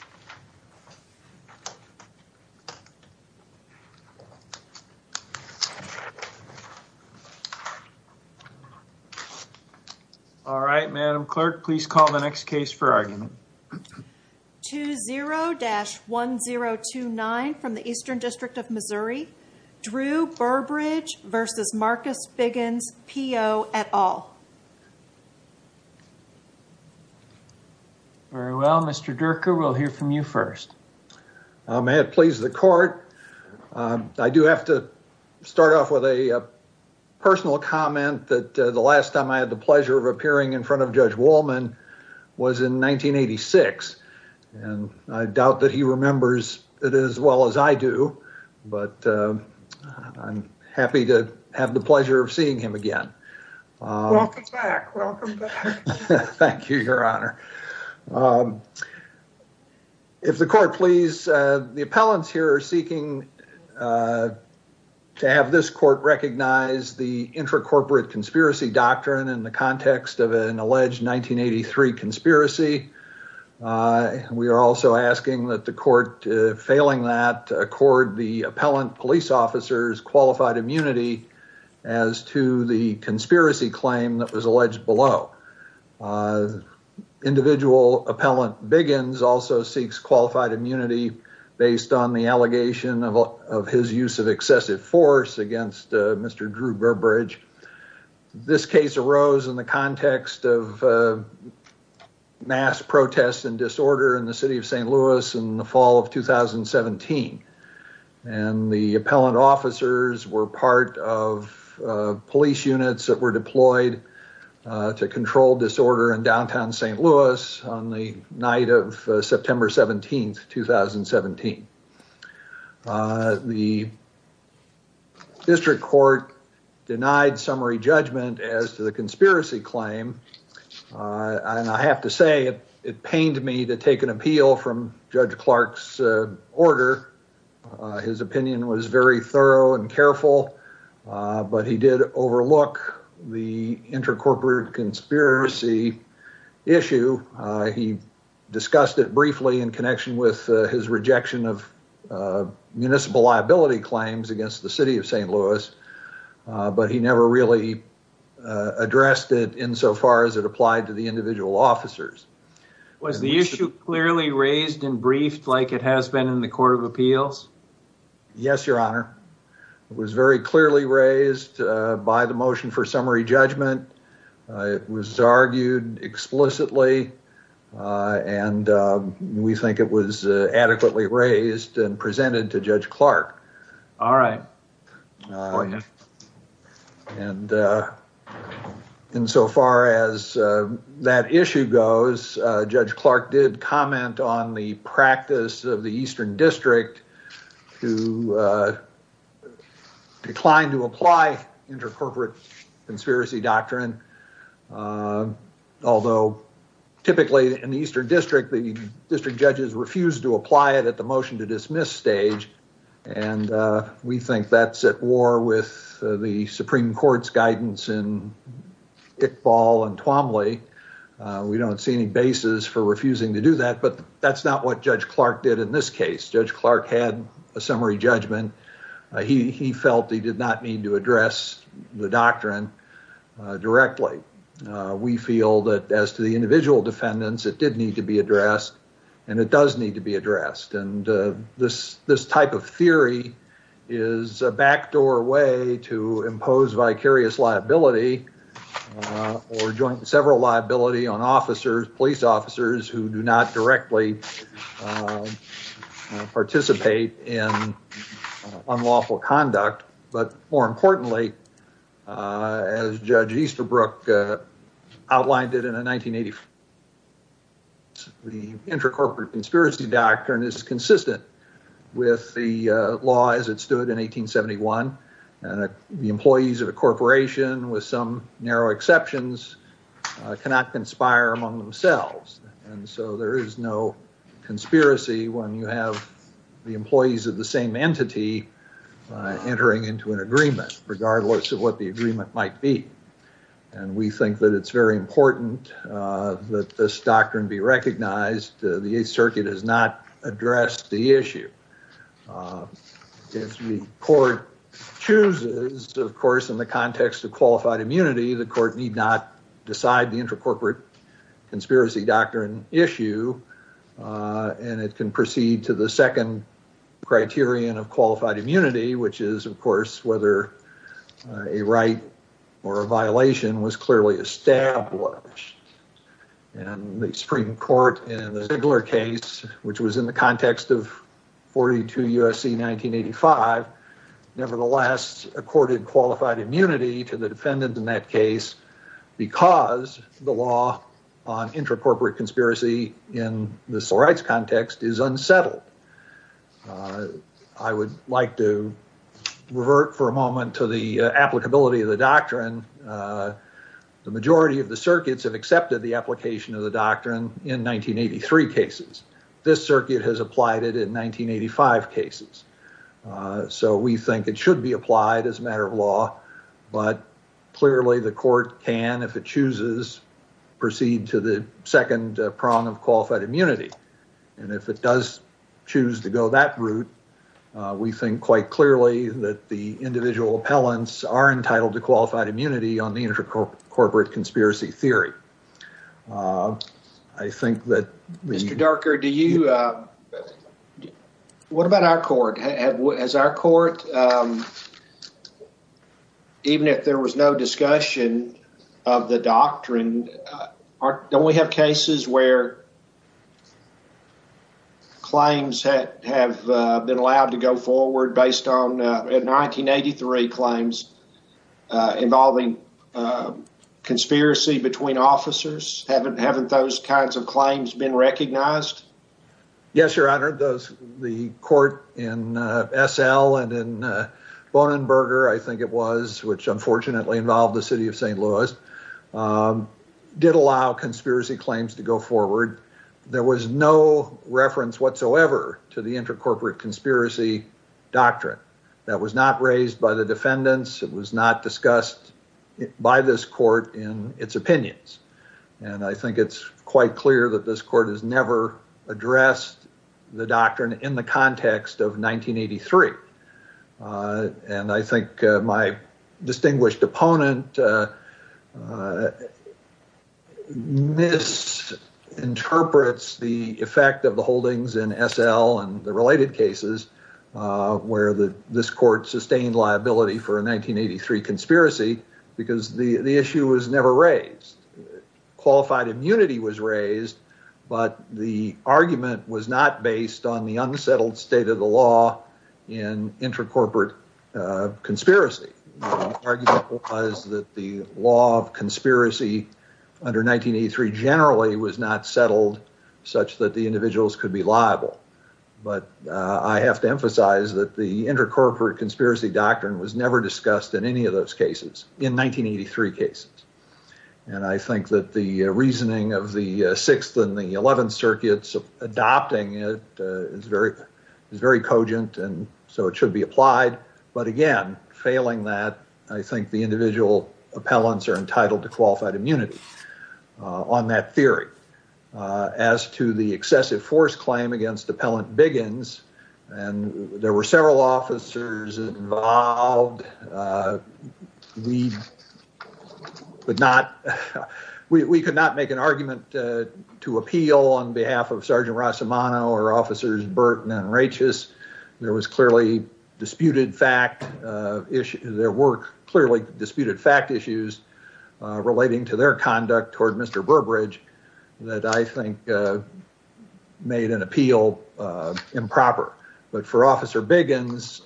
20-1029 Drew Burbridge v. Marcus Biggins, PO, et al. May it please the court. I do have to start off with a personal comment that the last time I had the pleasure of appearing in front of Judge Wolman was in 1986, and I doubt that he remembers it as well as I do, but I'm happy to have the pleasure of seeing him again. Welcome back. Welcome back. Thank you, Your Honor. If the court please, the appellants here are seeking to have this court recognize the intracorporate conspiracy doctrine in the context of an alleged 1983 conspiracy. We are also asking that the court, failing that, accord the appellant police officers qualified immunity as to the conspiracy claim that was alleged below. Individual appellant Biggins also seeks qualified immunity based on the allegation of his use of excessive force against Mr. Drew Burbridge. This case arose in the context of mass protests and disorder in the city of St. Louis in the fall of 2017, and the appellant officers were part of police units that were deployed to control disorder in downtown St. Louis on the night of September 17th, 2017. The district court denied summary judgment as to the conspiracy claim, and I have to say it pained me to take an appeal from Judge Clark's order. His opinion was very thorough and careful, but he did overlook the intracorporate conspiracy issue. He discussed it briefly in connection with his rejection of municipal liability claims against the city of St. Louis, but he never really addressed it insofar as it applied to the individual officers. Was the issue clearly raised and briefed like it has been in the Court of Appeals? Yes, Your Honor. It was very clearly raised by the motion for summary judgment. It was argued explicitly, and we think it was adequately raised and presented to Judge Clark. And insofar as that issue goes, Judge Clark did comment on the practice of the Eastern District, who declined to apply intracorporate conspiracy doctrine. Although typically in the Eastern District, the district judges refused to apply it at the motion-to-dismiss stage, and we think that's at war with the Supreme Court's guidance in Iqbal and Twomley. We don't see any basis for refusing to do that, but that's not what Judge Clark did in this case. Judge Clark had a summary judgment. He felt he did not need to address the doctrine directly. We feel that as to the individual defendants, it did need to be addressed, and it does need to be addressed. And this type of theory is a backdoor way to impose vicarious liability or joint—several liability on officers, police officers who do not directly participate in unlawful conduct. But more importantly, as Judge Easterbrook outlined it in a 1985—the intracorporate conspiracy doctrine is consistent with the law as it stood in 1871. And the employees of a corporation, with some narrow exceptions, cannot conspire among themselves, and so there is no conspiracy when you have the employees of the same entity entering into an agreement, regardless of what the agreement might be. And we think that it's very important that this doctrine be recognized. The Eighth Circuit has not addressed the issue. If the court chooses, of course, in the context of qualified immunity, the court need not decide the intracorporate conspiracy doctrine issue, and it can proceed to the second criterion of qualified immunity, which is, of course, whether a right or a violation was clearly established. And the Supreme Court in the Ziegler case, which was in the context of 42 U.S.C. 1985, nevertheless accorded qualified immunity to the defendant in that case because the law on intracorporate conspiracy in the civil rights context is unsettled. I would like to revert for a moment to the applicability of the doctrine. The majority of the circuits have accepted the application of the doctrine in 1983 cases. This circuit has applied it in 1985 cases. So we think it should be applied as a matter of law, but clearly the court can, if it chooses, proceed to the second prong of qualified immunity. And if it does choose to go that route, we think quite clearly that the individual appellants are entitled to qualified immunity on the intracorporate conspiracy theory. Mr. Darker, what about our court? Even if there was no discussion of the doctrine, don't we have cases where claims have been allowed to go forward based on 1983 claims involving conspiracy between officers? Haven't haven't those kinds of claims been recognized? Yes, Your Honor. The court in S.L. and in Bonenberger, I think it was, which unfortunately involved the city of St. Louis, did allow conspiracy claims to go forward. There was no reference whatsoever to the intracorporate conspiracy doctrine. That was not raised by the defendants. It was not discussed by this court in its opinions. And I think it's quite clear that this court has never addressed the doctrine in the context of 1983. And I think my distinguished opponent misinterprets the effect of the holdings in S.L. and the related cases where this court sustained liability for a 1983 conspiracy because the issue was never raised. Qualified immunity was raised, but the argument was not based on the unsettled state of the law in intracorporate conspiracy. The argument was that the law of conspiracy under 1983 generally was not settled such that the individuals could be liable. But I have to emphasize that the intracorporate conspiracy doctrine was never discussed in any of those cases in 1983 cases. And I think that the reasoning of the Sixth and the Eleventh Circuits adopting it is very cogent, and so it should be applied. But again, failing that, I think the individual appellants are entitled to qualified immunity on that theory. As to the excessive force claim against Appellant Biggins, and there were several officers involved. We could not make an argument to appeal on behalf of Sergeant Rossimano or Officers Burton and Rachis. There were clearly disputed fact issues relating to their conduct toward Mr. Burbridge that I think made an appeal improper. But for Officer Biggins,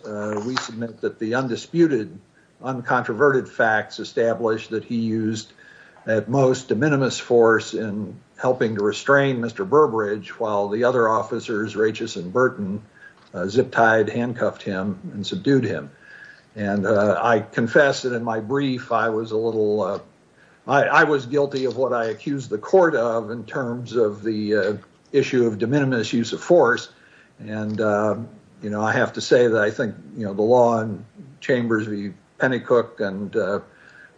we submit that the undisputed, uncontroverted facts established that he used at most de minimis force in helping to restrain Mr. Burbridge while the other officers, Rachis and Burton, zip-tied, handcuffed him, and subdued him. And I confess that in my brief, I was a little–I was guilty of what I accused the court of in terms of the issue of de minimis use of force. And, you know, I have to say that I think, you know, the law in Chambers v. Pennycook and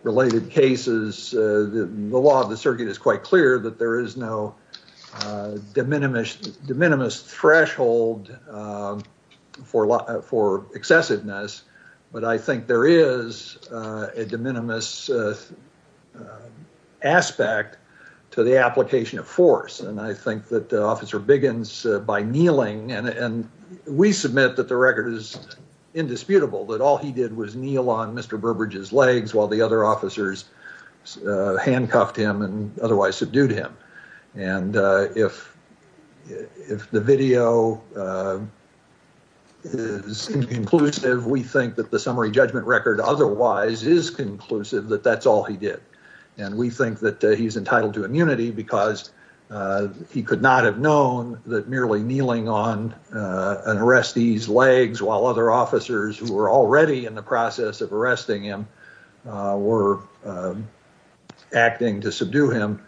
related cases, the law of the circuit is quite clear that there is no de minimis threshold for excessiveness. But I think there is a de minimis aspect to the application of force, and I think that Officer Biggins, by kneeling–and we submit that the record is indisputable that all he did was kneel on Mr. Burbridge's legs while the other officers handcuffed him and otherwise subdued him. And if the video is inconclusive, we think that the summary judgment record otherwise is conclusive that that's all he did. And we think that he's entitled to immunity because he could not have known that merely kneeling on an arrestee's legs while other officers who were already in the process of arresting him were acting to subdue him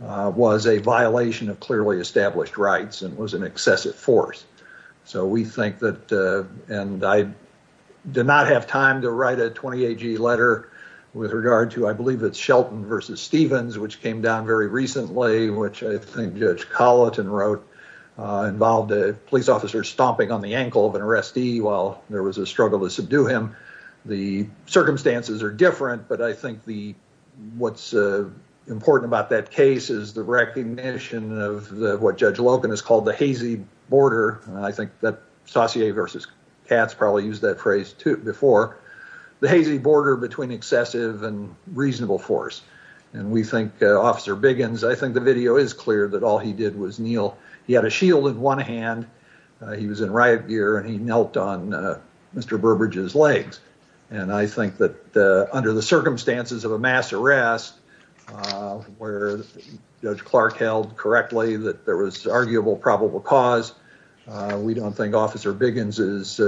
was a violation of clearly established rights and was an excessive force. So we think that–and I did not have time to write a 20AG letter with regard to, I believe, it's Shelton v. Stevens, which came down very recently, which I think Judge Colleton wrote involved a police officer stomping on the ankle of an arrestee while there was a struggle to subdue him. The circumstances are different, but I think the–what's important about that case is the recognition of what Judge Loken has called the hazy border–and I think that Saussure v. Katz probably used that phrase before–the hazy border between excessive and reasonable force. And we think–Officer Biggins, I think the video is clear that all he did was kneel. He had a shield in one hand. He was in riot gear, and he knelt on Mr. Burbidge's legs. And I think that under the circumstances of a mass arrest where Judge Clark held correctly that there was arguable probable cause, we don't think Officer Biggins's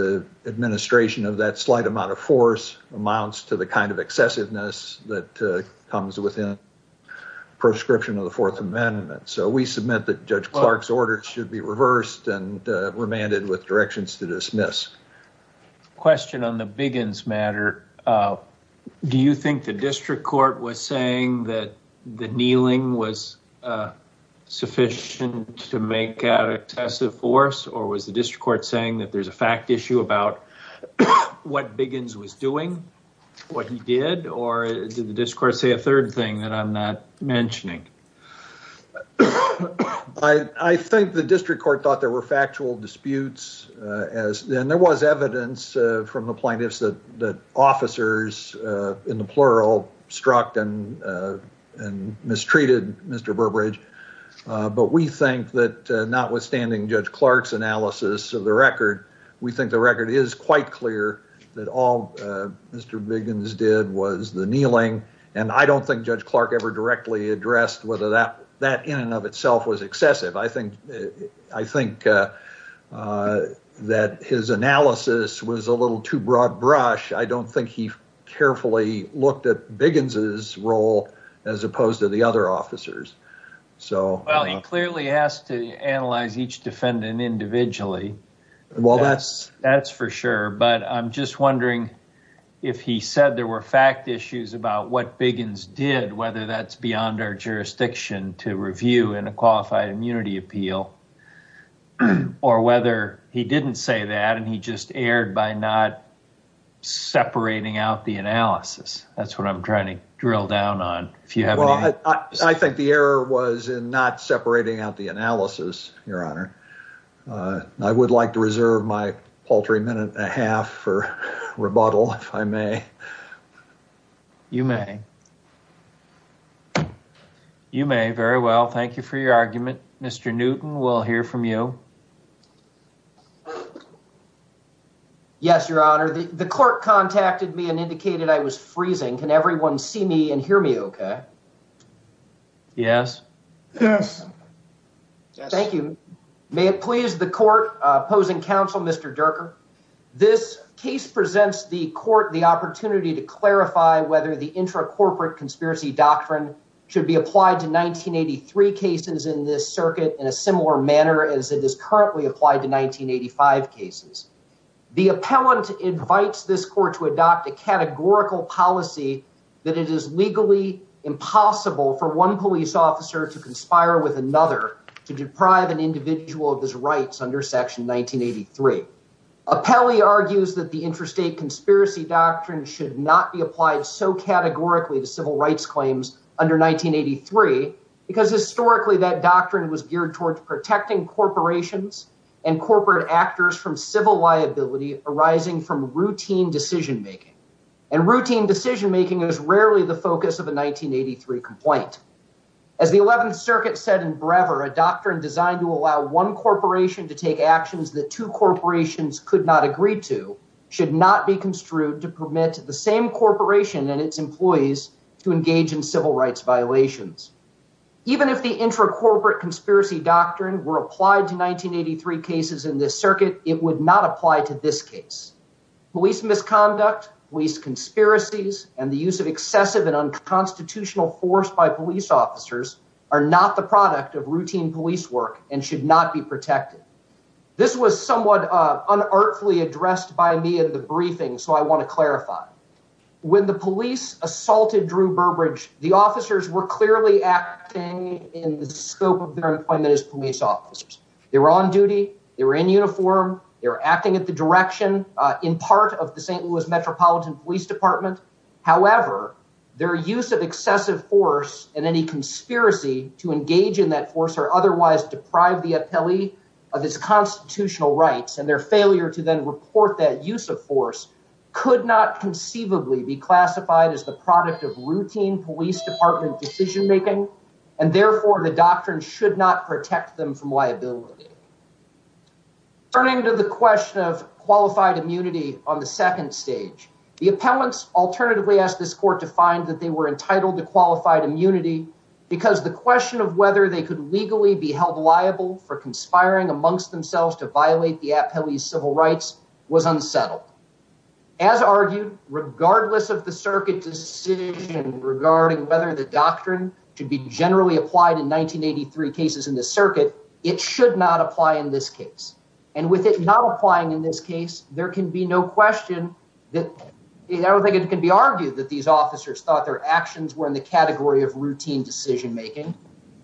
administration of that slight amount of force amounts to the kind of excessiveness that comes within proscription of the Fourth Amendment. So we submit that Judge Clark's order should be reversed and remanded with directions to dismiss. Question on the Biggins matter. Do you think the district court was saying that the kneeling was sufficient to make out excessive force, or was the district court saying that there's a fact issue about what Biggins was doing, what he did, or did the district court say a third thing that I'm not mentioning? I think the district court thought there were factual disputes, and there was evidence from the plaintiffs that officers, in the plural, struck and mistreated Mr. Burbidge. But we think that notwithstanding Judge Clark's analysis of the record, we think the record is quite clear that all Mr. Biggins did was the kneeling, and I don't think Judge Clark ever directly addressed whether that in and of itself was excessive. I think that his analysis was a little too broad brush. I don't think he carefully looked at Biggins's role as opposed to the other officers. Well, he clearly asked to analyze each defendant individually. That's for sure, but I'm just wondering if he said there were fact issues about what Biggins did, whether that's beyond our jurisdiction to review in a qualified immunity appeal, or whether he didn't say that and he just erred by not separating out the analysis. That's what I'm trying to drill down on. Well, I think the error was in not separating out the analysis, Your Honor. I would like to reserve my paltry minute and a half for rebuttal, if I may. You may. You may. Very well. Thank you for your argument. Mr. Newton, we'll hear from you. Yes, Your Honor. The court contacted me and indicated I was freezing. Can everyone see me and hear me? Okay. Yes. Yes. Thank you. May it please the court opposing counsel, Mr. Durker. This case presents the court the opportunity to clarify whether the intra corporate conspiracy doctrine should be applied to 1983 cases in this circuit in a similar manner as it is currently applied to 1985 cases. The appellant invites this court to adopt a categorical policy that it is legally impossible for one police officer to conspire with another to deprive an individual of his rights under section 1983. Appellee argues that the intrastate conspiracy doctrine should not be applied so categorically to civil rights claims under 1983 because historically that doctrine was geared towards protecting corporations and corporate actors from civil liability arising from routine decision making. And routine decision making is rarely the focus of a 1983 complaint. As the 11th Circuit said in Brever, a doctrine designed to allow one corporation to take actions that two corporations could not agree to should not be construed to permit the same corporation and its employees to engage in civil rights violations. Even if the intra corporate conspiracy doctrine were applied to 1983 cases in this circuit, it would not apply to this case. Police misconduct, police conspiracies and the use of excessive and unconstitutional force by police officers are not the product of routine police work and should not be protected. This was somewhat unartfully addressed by me in the briefing, so I want to clarify. When the police assaulted Drew Burbridge, the officers were clearly acting in the scope of their employment as police officers. They were on duty, they were in uniform, they were acting at the direction in part of the St. Louis Metropolitan Police Department. However, their use of excessive force and any conspiracy to engage in that force or otherwise deprive the appellee of his constitutional rights and their failure to then report that use of force could not conceivably be classified as the product of routine police department decision making. And therefore, the doctrine should not protect them from liability. Turning to the question of qualified immunity on the second stage, the appellants alternatively asked this court to find that they were entitled to qualified immunity because the question of whether they could legally be held liable for conspiring amongst themselves to violate the appellee's civil rights was unsettled. As argued, regardless of the circuit decision regarding whether the doctrine should be generally applied in 1983 cases in the circuit, it should not apply in this case. And with it not applying in this case, there can be no question that I don't think it can be argued that these officers thought their actions were in the category of routine decision making.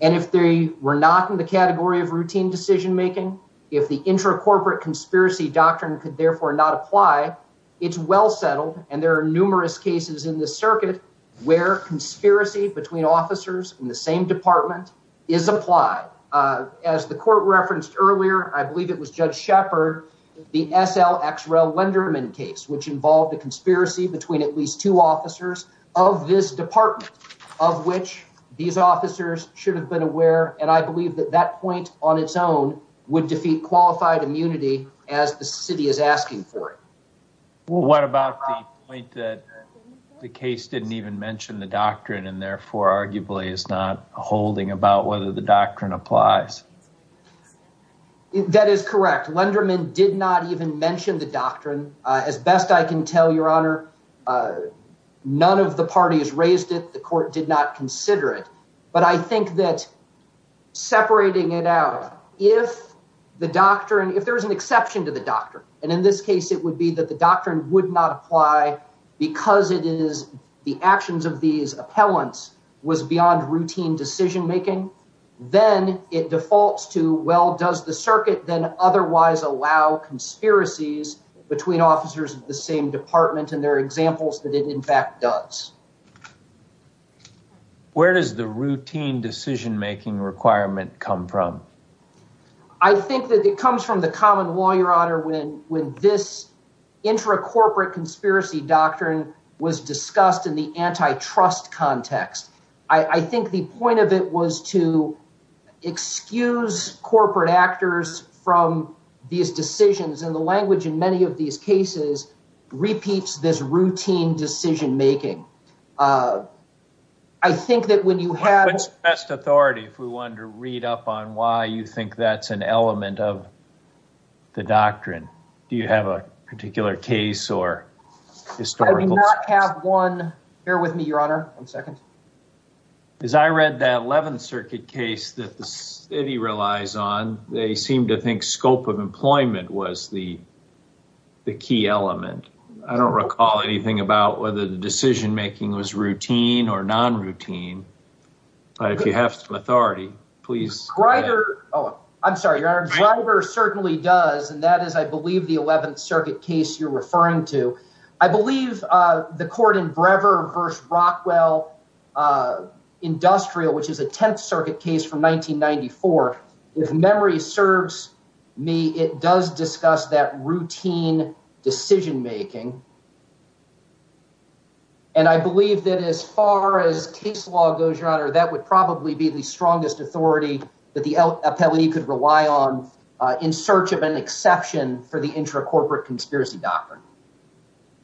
And if they were not in the category of routine decision making, if the intracorporate conspiracy doctrine could therefore not apply, it's well settled. And there are numerous cases in the circuit where conspiracy between officers in the same department is applied. As the court referenced earlier, I believe it was Judge Shepard, the S.L. Lenderman case, which involved a conspiracy between at least two officers of this department of which these officers should have been aware. And I believe that that point on its own would defeat qualified immunity as the city is asking for it. What about the point that the case didn't even mention the doctrine and therefore arguably is not holding about whether the doctrine applies? That is correct. Lenderman did not even mention the doctrine. As best I can tell, Your Honor, none of the parties raised it. The court did not consider it. But I think that separating it out, if the doctrine if there is an exception to the doctrine, and in this case, it would be that the doctrine would not apply because it is the actions of these appellants was beyond routine decision making. Then it defaults to, well, does the circuit then otherwise allow conspiracies between officers of the same department? And there are examples that it in fact does. Where does the routine decision making requirement come from? I think that it comes from the common law, Your Honor, when this intracorporate conspiracy doctrine was discussed in the antitrust context. I think the point of it was to excuse corporate actors from these decisions. And the language in many of these cases repeats this routine decision making. I think that when you have best authority, if we wanted to read up on why you think that's an element of the doctrine, do you have a particular case or historical have one? Bear with me, Your Honor. As I read that 11th Circuit case that the city relies on, they seem to think scope of employment was the key element. I don't recall anything about whether the decision making was routine or non routine. If you have some authority, please write. Oh, I'm sorry, Your Honor. Driver certainly does. And that is, I believe, the 11th Circuit case you're referring to. I believe the court in Brever versus Rockwell Industrial, which is a 10th Circuit case from 1994. If memory serves me, it does discuss that routine decision making. And I believe that as far as case law goes, Your Honor, that would probably be the strongest authority that the appellee could rely on in search of an exception for the intracorporate conspiracy doctrine.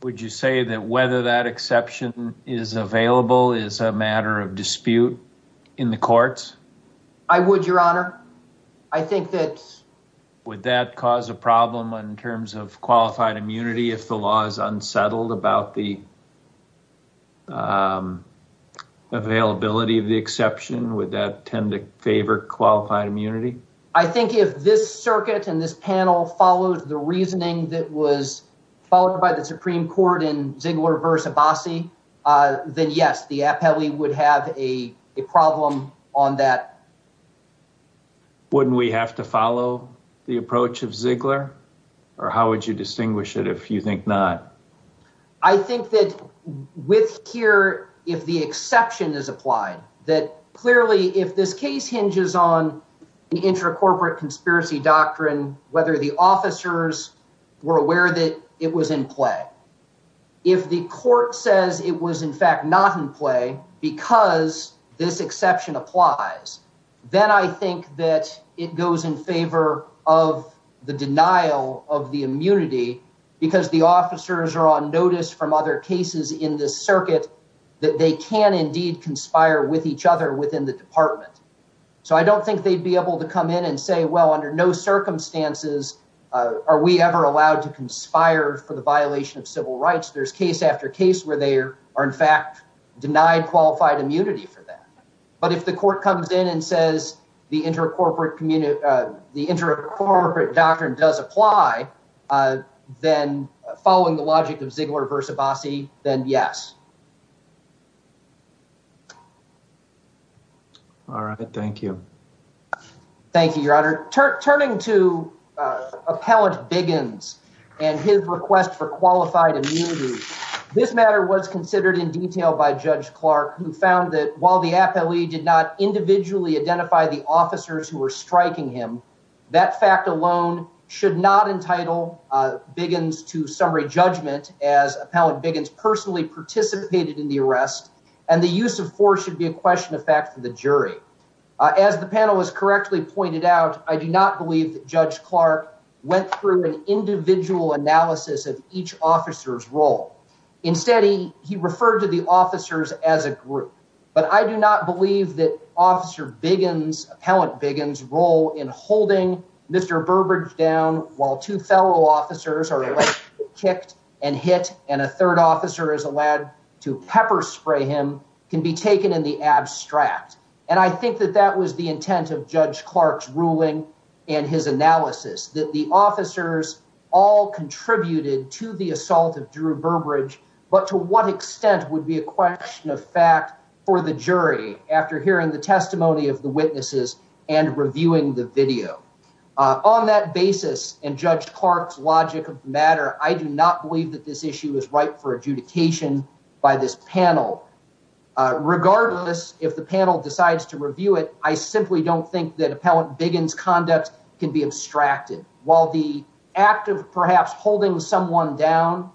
Would you say that whether that exception is available is a matter of dispute in the courts? I would, Your Honor. I think that's... Would that cause a problem in terms of qualified immunity if the law is unsettled about the availability of the exception? Would that tend to favor qualified immunity? I think if this circuit and this panel follows the reasoning that was followed by the Supreme Court in Ziegler versus Abbasi, then yes, the appellee would have a problem on that. Wouldn't we have to follow the approach of Ziegler? Or how would you distinguish it if you think not? I think that with here, if the exception is applied, that clearly if this case hinges on the intracorporate conspiracy doctrine, whether the officers were aware that it was in play. If the court says it was in fact not in play because this exception applies, then I think that it goes in favor of the denial of the immunity because the officers are on notice from other cases in this circuit that they can indeed conspire with each other within the department. So I don't think they'd be able to come in and say, well, under no circumstances are we ever allowed to conspire for the violation of civil rights. There's case after case where they are in fact denied qualified immunity for that. But if the court comes in and says the intracorporate doctrine does apply, then following the logic of Ziegler versus Abbasi, then yes. All right. Thank you. Thank you, Your Honor. Turning to Appellant Biggins and his request for qualified immunity, this matter was considered in detail by Judge Clark, who found that while the appellee did not individually identify the officers who were striking him, that fact alone should not entitle Biggins to summary judgment as Appellant Biggins personally participated in the arrest and the use of force should be a question of fact for the jury. As the panel has correctly pointed out, I do not believe that Judge Clark went through an individual analysis of each officer's role. Instead, he referred to the officers as a group. But I do not believe that Officer Biggins, Appellant Biggins' role in holding Mr. Burbridge down while two fellow officers are kicked and hit and a third officer is allowed to pepper spray him can be taken in the abstract. And I think that that was the intent of Judge Clark's ruling and his analysis that the officers all contributed to the assault of Drew Burbridge. But to what extent would be a question of fact for the jury after hearing the testimony of the witnesses and reviewing the video on that basis? I do not believe that this issue is ripe for adjudication by this panel. Regardless, if the panel decides to review it, I simply don't think that Appellant Biggins' conduct can be abstracted. While the act of perhaps holding someone down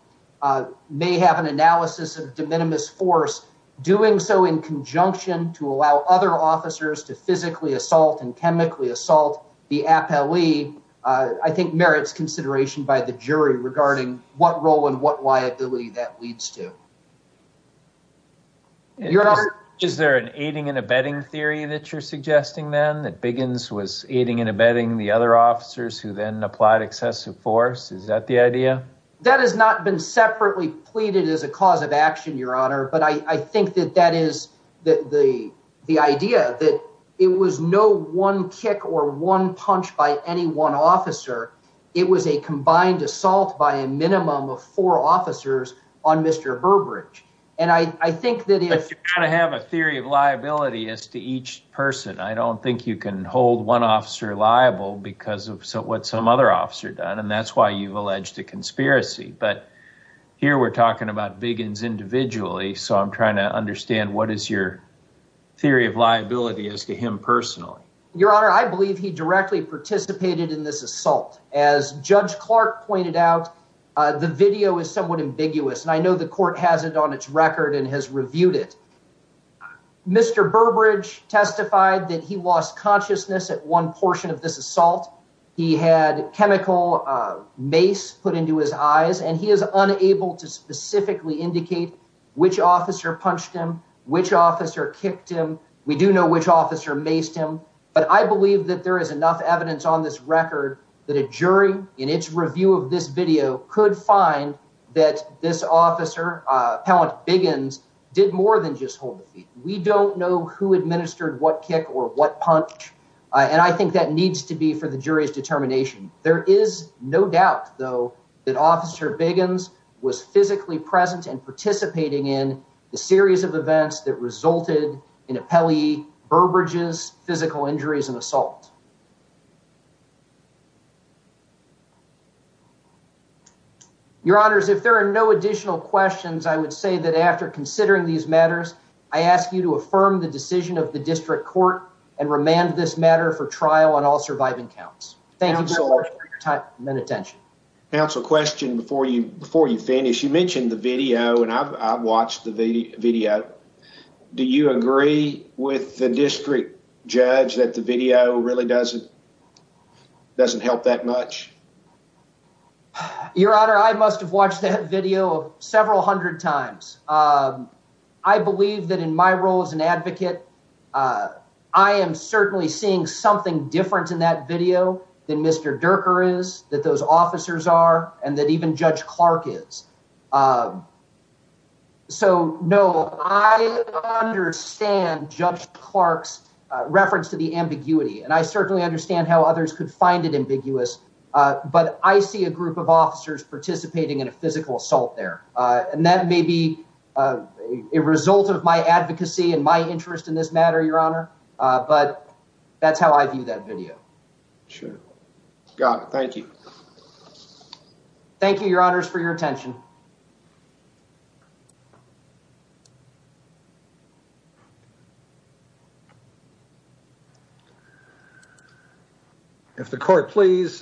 may have an analysis of de minimis force, doing so in conjunction to allow other officers to physically assault and chemically assault the appellee, I think needs to be looked at. And I think that merits consideration by the jury regarding what role and what liability that leads to. Is there an aiding and abetting theory that you're suggesting then that Biggins was aiding and abetting the other officers who then applied excessive force? Is that the idea? That has not been separately pleaded as a cause of action, Your Honor. But I think that that is the idea, that it was no one kick or one punch by any one officer. It was a combined assault by a minimum of four officers on Mr. Burbridge. But you've got to have a theory of liability as to each person. I don't think you can hold one officer liable because of what some other officer done, and that's why you've alleged a conspiracy. But here we're talking about Biggins individually, so I'm trying to understand what is your theory of liability as to him personally. Your Honor, I believe he directly participated in this assault. As Judge Clark pointed out, the video is somewhat ambiguous, and I know the court has it on its record and has reviewed it. Mr. Burbridge testified that he lost consciousness at one portion of this assault. He had chemical mace put into his eyes, and he is unable to specifically indicate which officer punched him, which officer kicked him. We do know which officer maced him, but I believe that there is enough evidence on this record that a jury, in its review of this video, could find that this officer, Appellant Biggins, did more than just hold the feet. We don't know who administered what kick or what punch, and I think that needs to be for the jury's determination. There is no doubt, though, that Officer Biggins was physically present and participating in the series of events that resulted in Appellee Burbridge's physical injuries and assault. Your Honors, if there are no additional questions, I would say that after considering these matters, I ask you to affirm the decision of the District Court and remand this matter for trial on all surviving counts. Thank you so much for your time and attention. Counsel, question before you finish. You mentioned the video, and I've watched the video. Do you agree with the District Judge that the video really doesn't help that much? Your Honor, I must have watched that video several hundred times. I believe that in my role as an advocate, I am certainly seeing something different in that video than Mr. Durker is, that those officers are, and that even Judge Clark is. So, no, I understand Judge Clark's reference to the ambiguity, and I certainly understand how others could find it ambiguous, but I see a group of officers participating in a physical assault there, and that may be a result of my advocacy and my interest in this matter, Your Honor, but that's how I view that video. Sure. Got it. Thank you. Thank you, Your Honors, for your attention. If the Court please,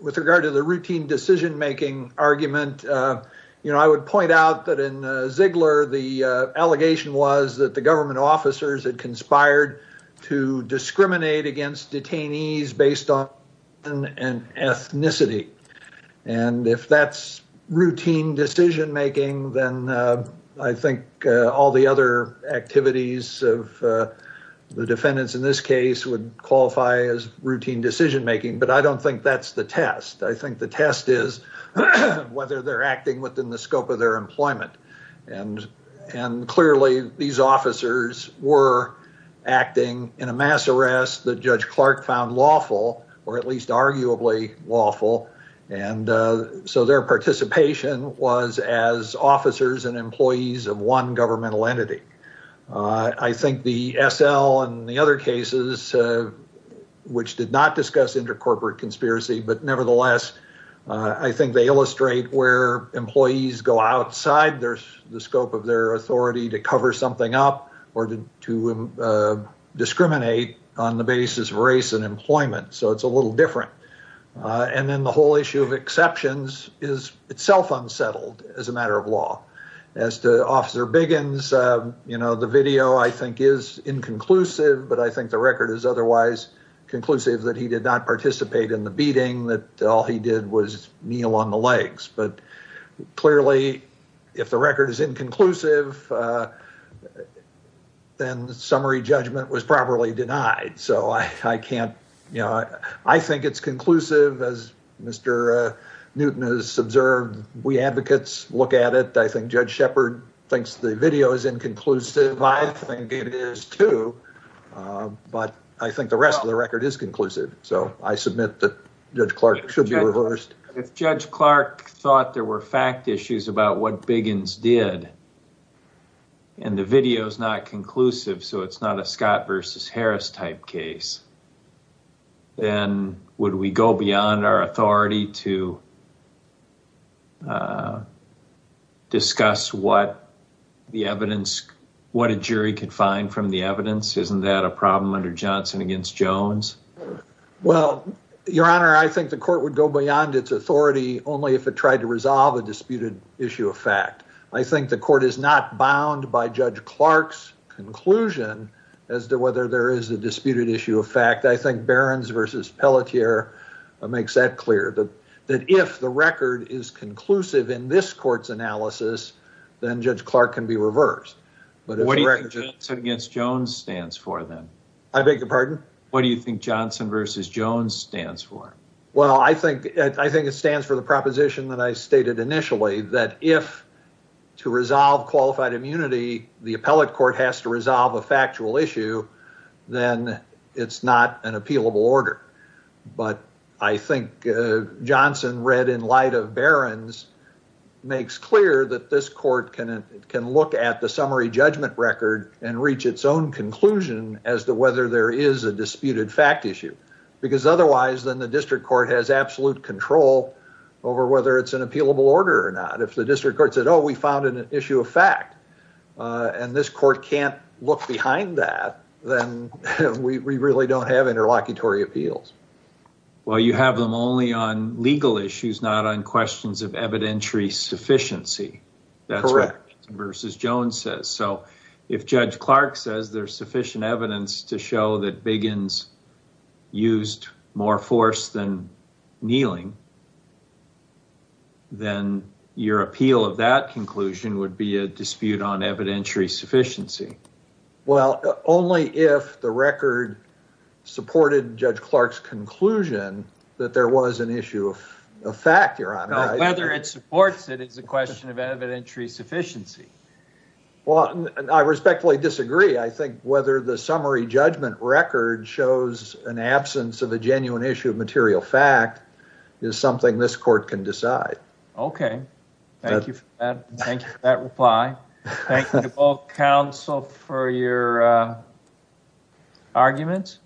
with regard to the routine decision-making argument, you know, I would point out that in Ziegler, the allegation was that the government officers had conspired to discriminate against detainees based on race and ethnicity, and if that's routine decision-making, then I think all the other actions that have been taken by the District Court would be the same. The activities of the defendants in this case would qualify as routine decision-making, but I don't think that's the test. I think the test is whether they're acting within the scope of their employment, and clearly these officers were acting in a mass arrest that Judge Clark found lawful, or at least arguably lawful, and so their participation was as officers and employees of one governmental entity. I think the SL and the other cases which did not discuss intercorporate conspiracy, but nevertheless I think they illustrate where employees go outside the scope of their authority to cover something up or to discriminate on the basis of race and employment, so it's a little different. And then the whole issue of exceptions is itself unsettled as a matter of law. As to Officer Biggins, you know, the video I think is inconclusive, but I think the record is otherwise conclusive that he did not participate in the beating, that all he did was kneel on the legs. But clearly if the record is inconclusive, then summary judgment was properly denied, so I can't, you know, I think it's conclusive as Mr. Newton has observed. We advocates look at it. I think Judge Shepard thinks the video is inconclusive. I think it is too, but I think the rest of the record is conclusive, so I submit that Judge Clark should be reversed. If Judge Clark thought there were fact issues about what Biggins did and the video is not conclusive, so it's not a Scott versus Harris type case, then would we go beyond our authority to discuss what the evidence, what a jury could find from the evidence? Isn't that a problem under Johnson against Jones? Well, Your Honor, I think the court would go beyond its authority only if it tried to resolve a disputed issue of fact. I think the court is not bound by Judge Clark's conclusion as to whether there is a disputed issue of fact. I think Barron's versus Pelletier makes that clear that if the record is conclusive in this court's analysis, then Judge Clark can be reversed. What do you think Johnson against Jones stands for, then? I beg your pardon? What do you think Johnson versus Jones stands for? Well, you have them only on legal issues, not on questions of evidentiary sufficiency. Correct. That's what Johnson versus Jones says. So if Judge Clark says there's sufficient evidence to show that Biggins used more force than kneeling, then your appeal of that conclusion would be a dispute on evidentiary sufficiency. Well, only if the record supported Judge Clark's conclusion that there was an issue of fact, Your Honor. Whether it supports it is a question of evidentiary sufficiency. Well, I respectfully disagree. I think whether the summary judgment record shows an absence of a genuine issue of material fact is something this court can decide. Okay. Thank you for that. Thank you for that reply. Thank you to both counsel for your arguments.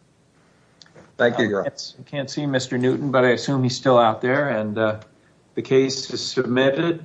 Thank you, Your Honor. I can't see Mr. Newton, but I assume he's still out there. And the case is submitted.